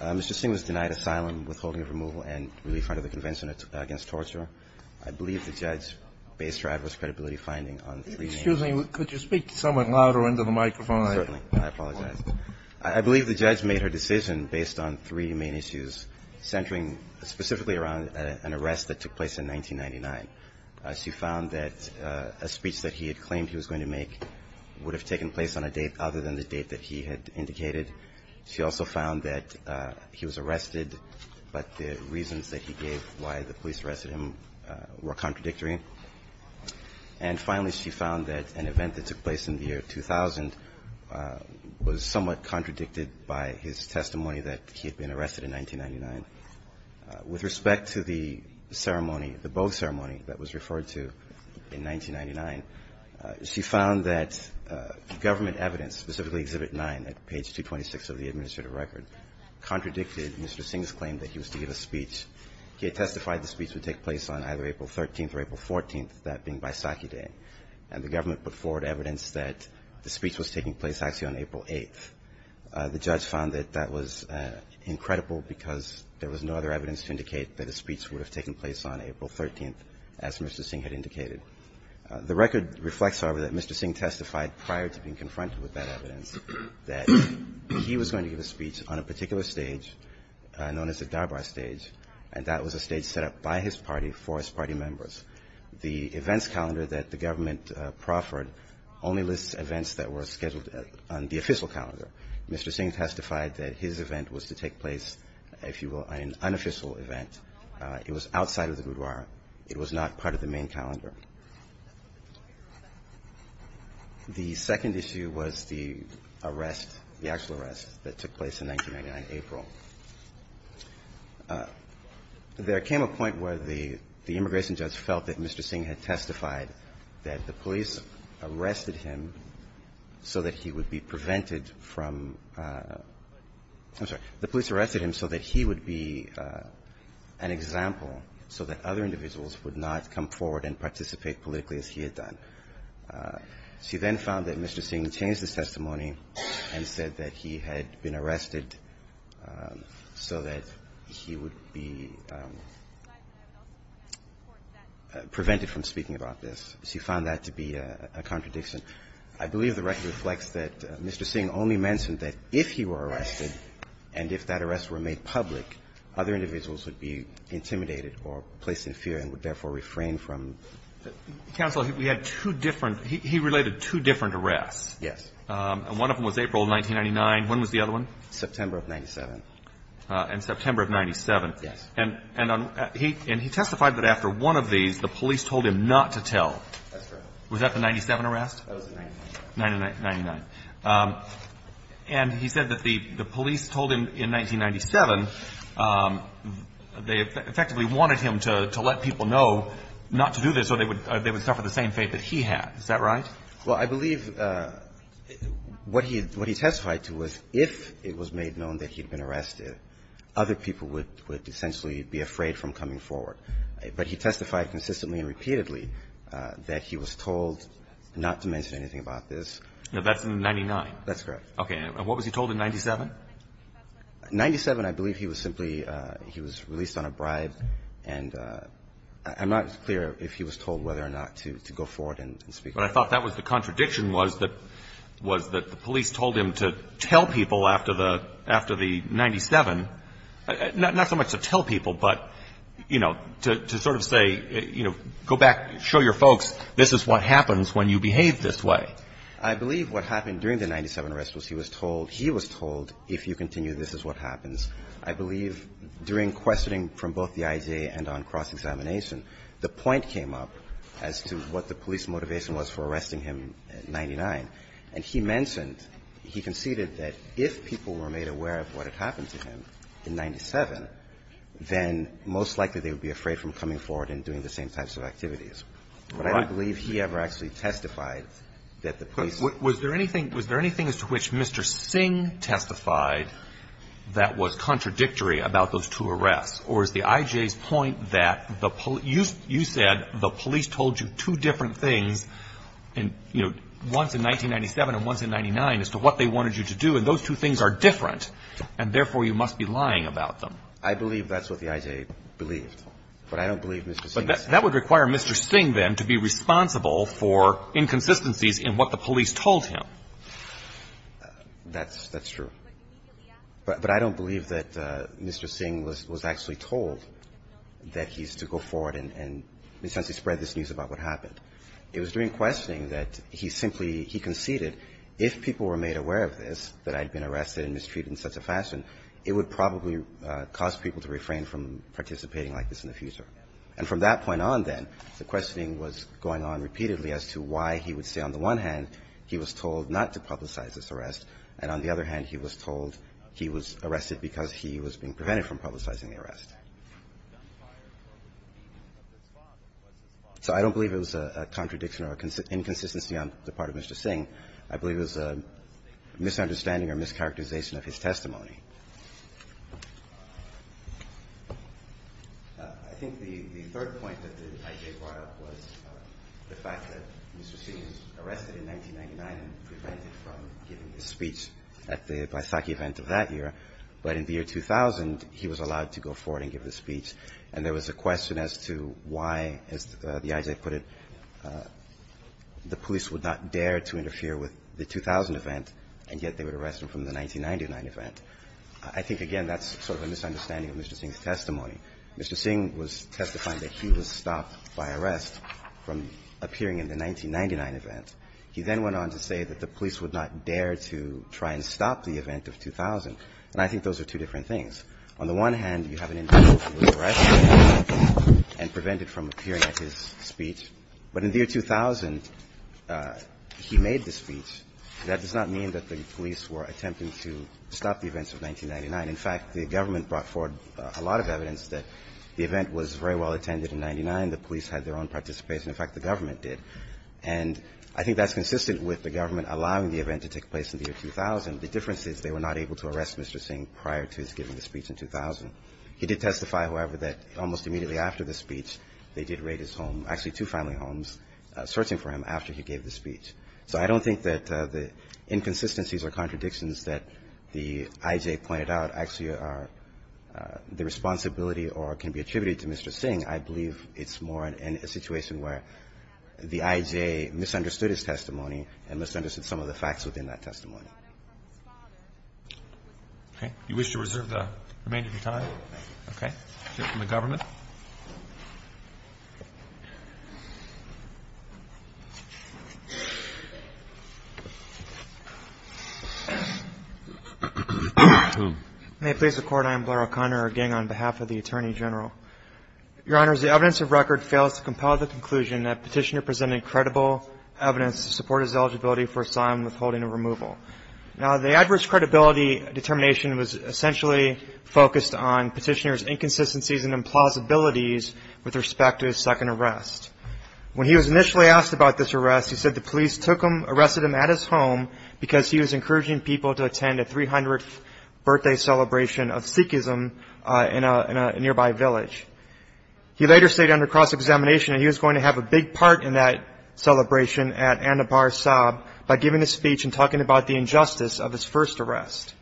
Mr. Singh was denied asylum, withholding of removal, and relief under the Convention Against Torture. I believe the judge based her adverse credibility finding on three main issues. Excuse me. Could you speak somewhat louder into the microphone? Certainly. I apologize. I believe the judge made her decision based on three main issues centering specifically around an arrest that took place in 1999. She found that a speech that he had claimed he was going to make would have taken place on a date other than the date that he had indicated. She also found that he was arrested, but the reasons that he gave why the police arrested him were contradictory. And finally, she found that an event that took place in the year 2000 was somewhat contradicted by his testimony that he had been arrested in 1999. With respect to the ceremony, the year 1999, she found that government evidence, specifically Exhibit 9 at page 226 of the Administrative Record, contradicted Mr. Singh's claim that he was to give a speech. He had testified the speech would take place on either April 13th or April 14th, that being Baisakhi Day, and the government put forward evidence that the speech was taking place actually on April 8th. The judge found that that was incredible because there was no other evidence to indicate that a speech would have taken place on April 13th, as Mr. Singh had indicated. The record reflects, however, that Mr. Singh testified prior to being confronted with that evidence that he was going to give a speech on a particular stage known as the Darbar stage, and that was a stage set up by his party for his party members. The events calendar that the government proffered only lists events that were scheduled on the official calendar. Mr. Singh testified that his event was to take place, if you will, on an unofficial event. It was outside of the Gurdwara. It was not part of the main calendar. The second issue was the arrest, the actual arrest that took place in 1999, April. There came a point where the immigration judge felt that Mr. Singh had testified that the police arrested him so that he would be prevented from – I'm sorry. The police arrested him so that he would be an example, so that other individuals would not come forward and participate politically as he had done. She then found that Mr. Singh changed his testimony and said that he had been arrested so that he would be prevented from speaking about this. She found that to be a contradiction. I believe the record reflects that Mr. Singh only mentioned that if he were arrested and if that arrest were made public, other individuals would be intimidated or placed in fear and would therefore refrain from – Counsel, we had two different – he related two different arrests. Yes. And one of them was April of 1999. When was the other one? September of 1997. In September of 1997. Yes. And he testified that after one of these, the police told him not to tell. That's correct. Was that the 1997 arrest? That was the 1997. 1999. And he said that the police told him in 1997 they effectively wanted him to let people know not to do this or they would – they would suffer the same fate that he had. Is that right? Well, I believe what he – what he testified to was if it was made known that he had been arrested, other people would – would essentially be afraid from coming forward. But he testified consistently and repeatedly that he was told not to mention anything about this. Now, that's in 99. That's correct. Okay. And what was he told in 97? 97, I believe he was simply – he was released on a bribe. And I'm not clear if he was told whether or not to go forward and speak. But I thought that was the contradiction was that – was that the police told him to tell people after the – after the 97 – not so much to tell people, but, you know, to sort of say, you know, go back, show your folks this is what happens when you behave this way. I believe what happened during the 97 arrest was he was told – he was told if you continue, this is what happens. I believe during questioning from both the IJA and on cross-examination, the point came up as to what the police motivation was for arresting him in 99. And he mentioned – he conceded that if people were made aware of what had happened to him in 97, then most likely they would be afraid from coming forward and doing the same types of activities. Right. I don't believe he ever actually testified that the police – Was there anything – was there anything as to which Mr. Singh testified that was contradictory about those two arrests? Or is the IJA's point that the – you said the police told you two different things, you know, once in 1997 and once in 99, as to what they wanted you to do. And those two things are different. And therefore, you must be lying about them. I believe that's what the IJA believed. But I don't believe Mr. Singh. That would require Mr. Singh, then, to be responsible for inconsistencies in what the police told him. That's true. But I don't believe that Mr. Singh was actually told that he's to go forward and essentially spread this news about what happened. It was during questioning that he simply – he conceded if people were made aware of this, that I'd been arrested and mistreated in such a fashion, it would probably cause people to refrain from participating like this in the future. And from that point on, then, the questioning was going on repeatedly as to why he would say, on the one hand, he was told not to publicize this arrest, and on the other hand, he was told he was arrested because he was being prevented from publicizing the arrest. So I don't believe it was a contradiction or a inconsistency on the part of Mr. Singh. I believe it was a misunderstanding or mischaracterization of his testimony. I think the third point that the I.J. brought up was the fact that Mr. Singh was arrested in 1999 and prevented from giving his speech at the Baisakhi event of that year. But in the year 2000, he was allowed to go forward and give his speech. And there was a question as to why, as the I.J. put it, the police would not dare to interfere with the 2000 event, and yet they would arrest him from the 1999 event. I think, again, that's sort of a misunderstanding of Mr. Singh's testimony. Mr. Singh was testifying that he was stopped by arrest from appearing in the 1999 event. He then went on to say that the police would not dare to try and stop the event of 2000. And I think those are two different things. On the one hand, you have an individual who was arrested and prevented from appearing at his speech. But in the year 2000, he made the speech. That does not mean that the police were attempting to stop the events of 1999. In fact, the government brought forward a lot of evidence that the event was very well attended in 1999. The police had their own participation. In fact, the government did. And I think that's consistent with the government allowing the event to take place in the year 2000. The difference is they were not able to arrest Mr. Singh prior to his giving the speech in 2000. He did testify, however, that almost immediately after the speech, they did raid his home, actually two family homes, searching for him after he gave the speech. So I don't think that the inconsistencies or contradictions that the I.J. pointed out actually are the responsibility or can be attributed to Mr. Singh. I believe it's more in a situation where the I.J. misunderstood his testimony and misunderstood some of the facts within that testimony. Okay. You wish to reserve the remainder of your time? Okay. From the government. May it please the Court, I am Blair O'Connor, again, on behalf of the Attorney General. Your Honors, the evidence of record fails to compel the conclusion that Petitioner presented credible evidence to support his eligibility for asylum withholding and removal. Now, the adverse credibility determination was essentially focused on Petitioner's inconsistencies and implausibilities with respect to his second arrest. When he was initially asked about this arrest, he said the police took him, arrested him at his home because he was encouraging people to attend a 300th birthday celebration of Sikhism in a nearby village. He later stated under cross-examination that he was going to have a big part in that celebration at Annapur Sabh by giving a speech and talking about the injustice of his first arrest.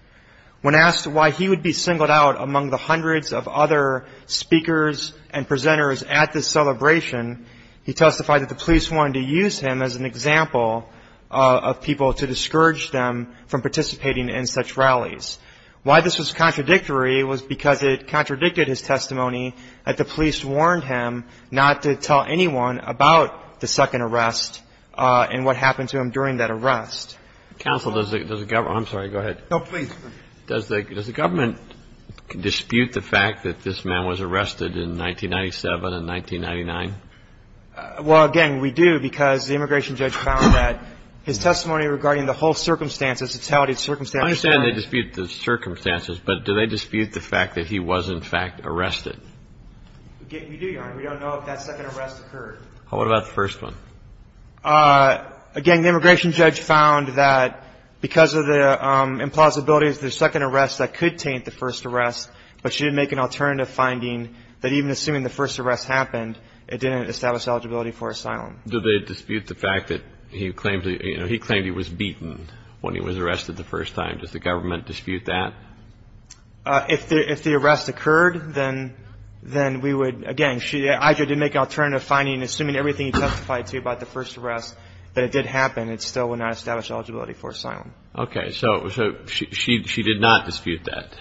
When asked why he would be singled out among the hundreds of other speakers and presenters at this celebration, he testified that the police wanted to use him as an example of people to discourage them from participating in such rallies. Why this was contradictory was because it contradicted his testimony that the police warned him not to tell anyone about the second arrest and what happened to him during that arrest. Counsel, does the government – I'm sorry. Go ahead. No, please. Does the government dispute the fact that this man was arrested in 1997 and 1999? Well, again, we do because the immigration judge found that his testimony regarding the whole circumstances, the totality of circumstances – I understand they dispute the circumstances, but do they dispute the fact that he was, in fact, arrested? We do, Your Honor. We don't know if that second arrest occurred. What about the first one? Again, the immigration judge found that because of the implausibility of the second arrest, that could taint the first arrest, but she didn't make an alternative finding that even assuming the first arrest happened, it didn't establish eligibility for asylum. Do they dispute the fact that he claimed he was beaten when he was arrested the first time? Does the government dispute that? If the arrest occurred, then we would – again, Aja did make an alternative finding assuming everything he testified to about the first arrest, that it did happen, it still would not establish eligibility for asylum. Okay. So she did not dispute that?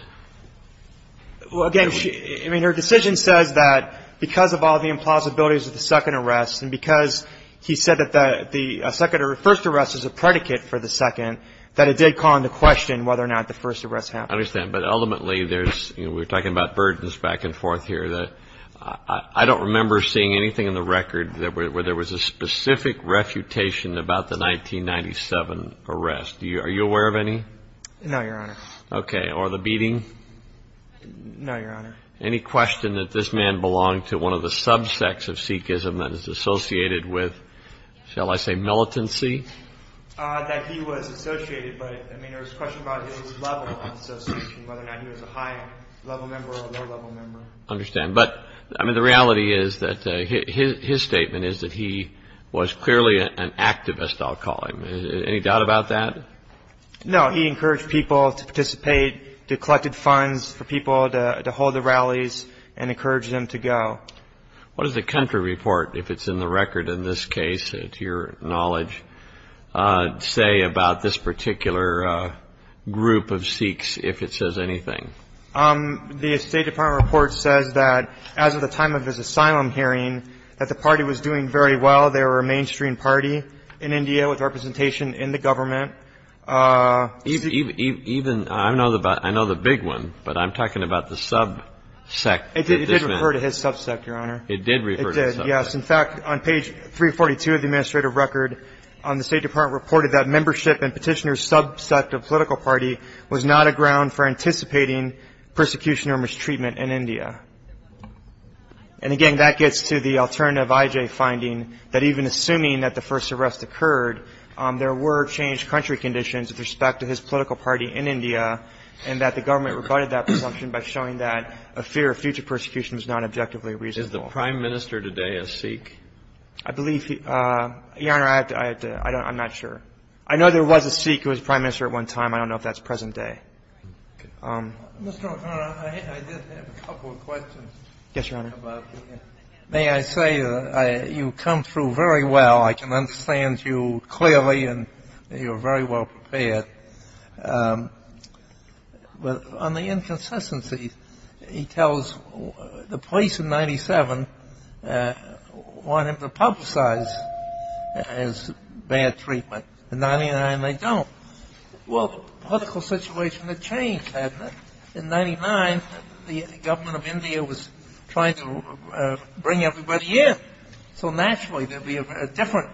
Well, again, her decision says that because of all the implausibilities of the second arrest and because he said that the first arrest was a predicate for the second, that it did call into question whether or not the first arrest happened. I understand. But ultimately, we're talking about burdens back and forth here. I don't remember seeing anything in the record where there was a specific refutation about the 1997 arrest. Are you aware of any? No, Your Honor. Okay. Or the beating? No, Your Honor. Any question that this man belonged to one of the subsects of Sikhism that is associated with, shall I say, militancy? That he was associated. But, I mean, there was a question about his level of association, whether or not he was a high-level member or a low-level member. I understand. But, I mean, the reality is that his statement is that he was clearly an activist, I'll call him. Any doubt about that? No. He encouraged people to participate, collected funds for people to hold the rallies and encouraged them to go. What does the country report, if it's in the record in this case, to your knowledge, say about this particular group of Sikhs, if it says anything? The State Department report says that as of the time of his asylum hearing, that the party was doing very well. They were a mainstream party in India with representation in the government. Even, I know the big one, but I'm talking about the subsect. It did refer to his subsect, Your Honor. It did refer to his subsect. It did, yes. In fact, on page 342 of the administrative record, the State Department reported that membership in petitioner's subsect of political party was not a ground for anticipating persecution or mistreatment in India. And, again, that gets to the alternative IJ finding, that even assuming that the first arrest occurred, there were changed country conditions with respect to his political party in India and that the government rebutted that presumption by showing that a fear of future persecution is not objectively reasonable. Is the Prime Minister today a Sikh? I believe he – Your Honor, I have to – I don't – I'm not sure. I know there was a Sikh who was Prime Minister at one time. I don't know if that's present day. Mr. O'Connor, I did have a couple of questions. Yes, Your Honor. May I say you come through very well. I can understand you clearly and you're very well prepared. But on the inconsistencies, he tells the police in 97 want him to publicize his bad treatment. In 99, they don't. Well, the political situation had changed, hadn't it? In 99, the government of India was trying to bring everybody in. So naturally, there would be a different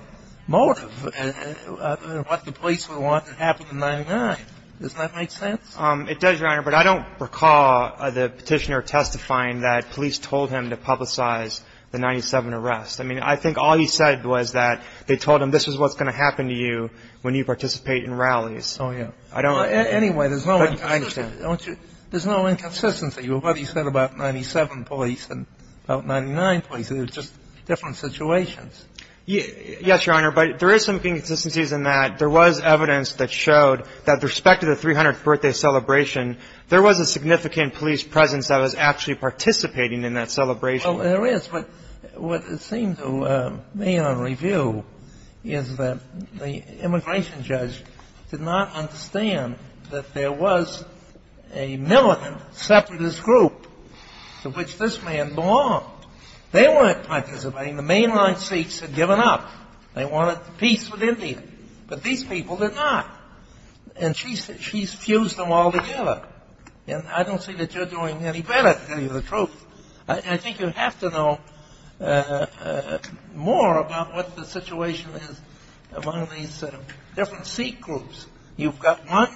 motive of what the police would want to happen in 99. Doesn't that make sense? It does, Your Honor, but I don't recall the petitioner testifying that police told him to publicize the 97 arrest. I mean, I think all he said was that they told him this is what's going to happen to you when you participate in rallies. Oh, yeah. Anyway, there's no – I understand. There's no inconsistency with what he said about 97 police and about 99 police. It's just different situations. Yes, Your Honor, but there is some inconsistencies in that. There was evidence that showed that with respect to the 300th birthday celebration, there was a significant police presence that was actually participating in that celebration. Well, there is. But what it seemed to me on review is that the immigration judge did not understand that there was a militant separatist group to which this man belonged. They weren't participating. The mainline Sikhs had given up. They wanted peace with India. But these people did not. And she's fused them all together. And I don't see that you're doing any better, to tell you the truth. I think you have to know more about what the situation is among these different Sikh groups. You've got one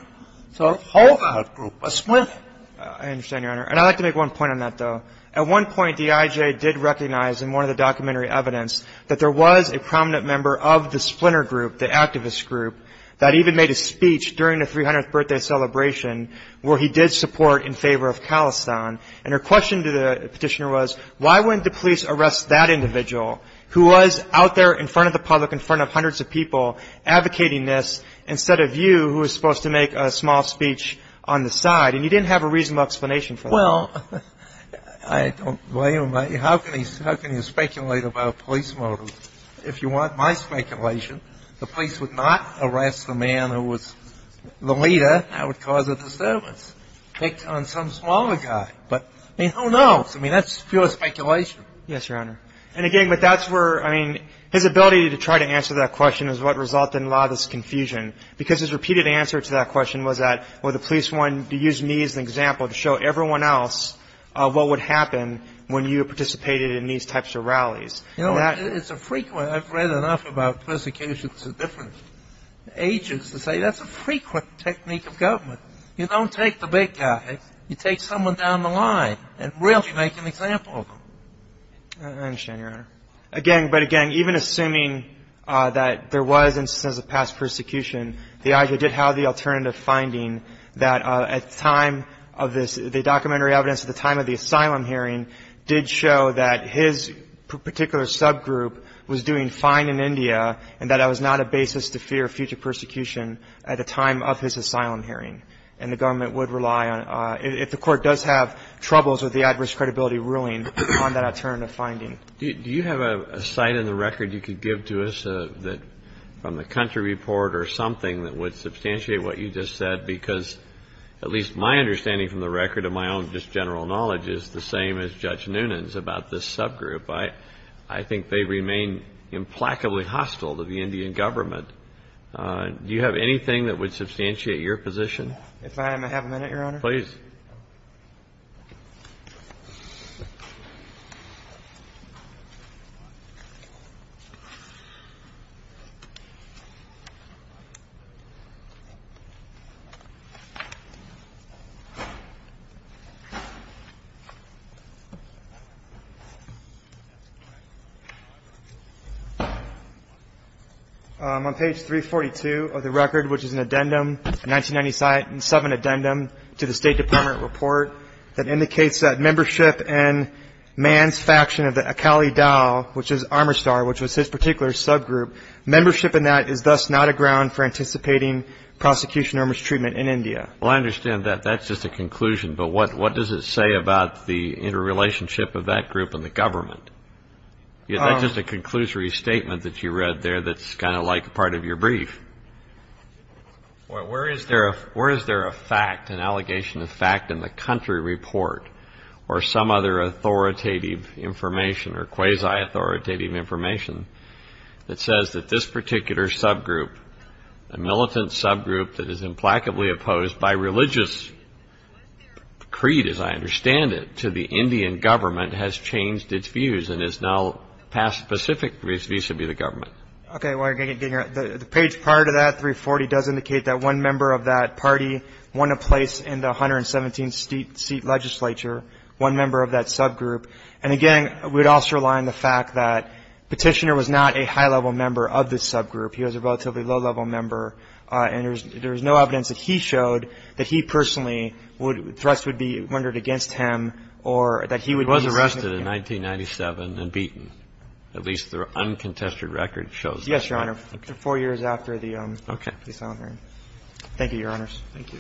sort of holdout group, a splinter. I understand, Your Honor. And I'd like to make one point on that, though. At one point, D.I.J. did recognize in one of the documentary evidence that there was a prominent member of the splinter group, the activist group, that even made a speech during the 300th birthday celebration, where he did support in favor of Khalistan. And her question to the petitioner was, why wouldn't the police arrest that individual who was out there in front of the public, in front of hundreds of people, advocating this, instead of you who was supposed to make a small speech on the side? And you didn't have a reasonable explanation for that. Well, I don't blame him. How can you speculate about a police motive? If you want my speculation, the police would not arrest the man who was the leader. That would cause a disturbance, picked on some smaller guy. But, I mean, who knows? I mean, that's pure speculation. Yes, Your Honor. And, again, but that's where, I mean, his ability to try to answer that question is what resulted in a lot of this confusion, because his repeated answer to that question was that, you know, the police wanted to use me as an example to show everyone else what would happen when you participated in these types of rallies. You know, it's a frequent ‑‑ I've read enough about persecutions of different ages to say that's a frequent technique of government. You don't take the big guy. You take someone down the line and really make an example of them. I understand, Your Honor. Again, but, again, even assuming that there was instances of past persecution, the IJA did have the alternative finding that at the time of this, the documentary evidence at the time of the asylum hearing did show that his particular subgroup was doing fine in India and that I was not a basis to fear future persecution at the time of his asylum hearing. And the government would rely on, if the court does have troubles with the adverse credibility ruling, on that alternative finding. Do you have a sight in the record you could give to us from the country report or something that would substantiate what you just said? Because at least my understanding from the record of my own just general knowledge is the same as Judge Noonan's about this subgroup. I think they remain implacably hostile to the Indian government. Do you have anything that would substantiate your position? If I may have a minute, Your Honor. Please. Thank you. On page 342 of the record, which is an addendum, a 1997 addendum to the State Department report, that indicates that membership in Mann's faction of the Akali Dao, which is Armistar, which was his particular subgroup, membership in that is thus not a ground for anticipating prosecution or mistreatment in India. Well, I understand that. That's just a conclusion. But what does it say about the interrelationship of that group and the government? That's just a conclusory statement that you read there that's kind of like part of your brief. Well, where is there a fact, an allegation of fact in the country report or some other authoritative information or quasi-authoritative information that says that this particular subgroup, a militant subgroup that is implacably opposed by religious creed, as I understand it, to the Indian government has changed its views and is now passed specifically vis-a-vis the government. Okay. The page prior to that, 340, does indicate that one member of that party won a place in the 117-seat legislature, one member of that subgroup. And, again, we would also rely on the fact that Petitioner was not a high-level member of this subgroup. He was a relatively low-level member. And there is no evidence that he showed that he personally would be wondered against him or that he would be He was arrested in 1997 and beaten. At least the uncontested record shows that. Yes, Your Honor. Four years after the silent hearing. Okay. Thank you, Your Honors. Thank you.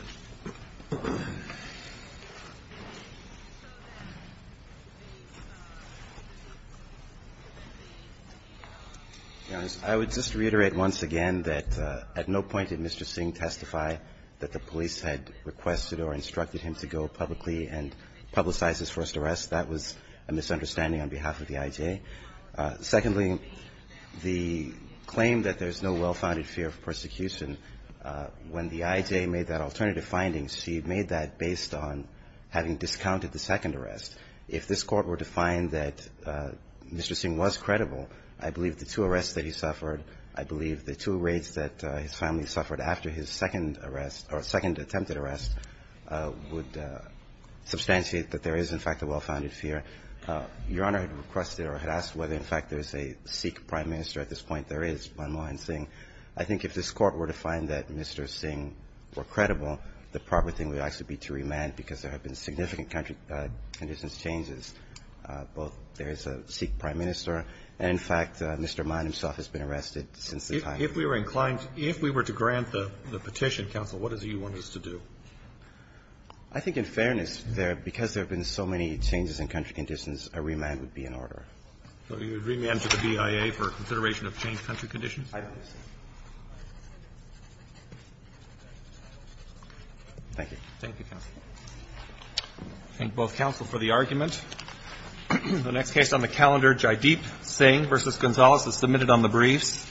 I would just reiterate once again that at no point did Mr. Singh testify that the police had requested or instructed him to go publicly and publicize his first arrest. That was a misunderstanding on behalf of the IJ. Secondly, the claim that there's no well-founded fear of persecution, when the IJ made that alternative finding, she made that based on having discounted the second arrest. If this Court were to find that Mr. Singh was credible, I believe the two arrests that he suffered, I believe the two raids that his family suffered after his second arrest or second attempted arrest would substantiate that there is, in fact, a well-founded fear. Your Honor had requested or had asked whether, in fact, there is a Sikh prime minister at this point. There is, Manmohan Singh. I think if this Court were to find that Mr. Singh were credible, the proper thing would actually be to remand because there have been significant country conditions changes. Both there is a Sikh prime minister, and, in fact, Mr. Man himself has been arrested since the time. If we were inclined to grant the petition, counsel, what is it you want us to do? I think in fairness there, because there have been so many changes in country conditions, a remand would be in order. So you would remand to the BIA for consideration of changed country conditions? I don't think so. Thank you. Thank you, counsel. I thank both counsel for the argument. The next case on the calendar, Jaideep Singh v. Gonzalez, is submitted on the briefs.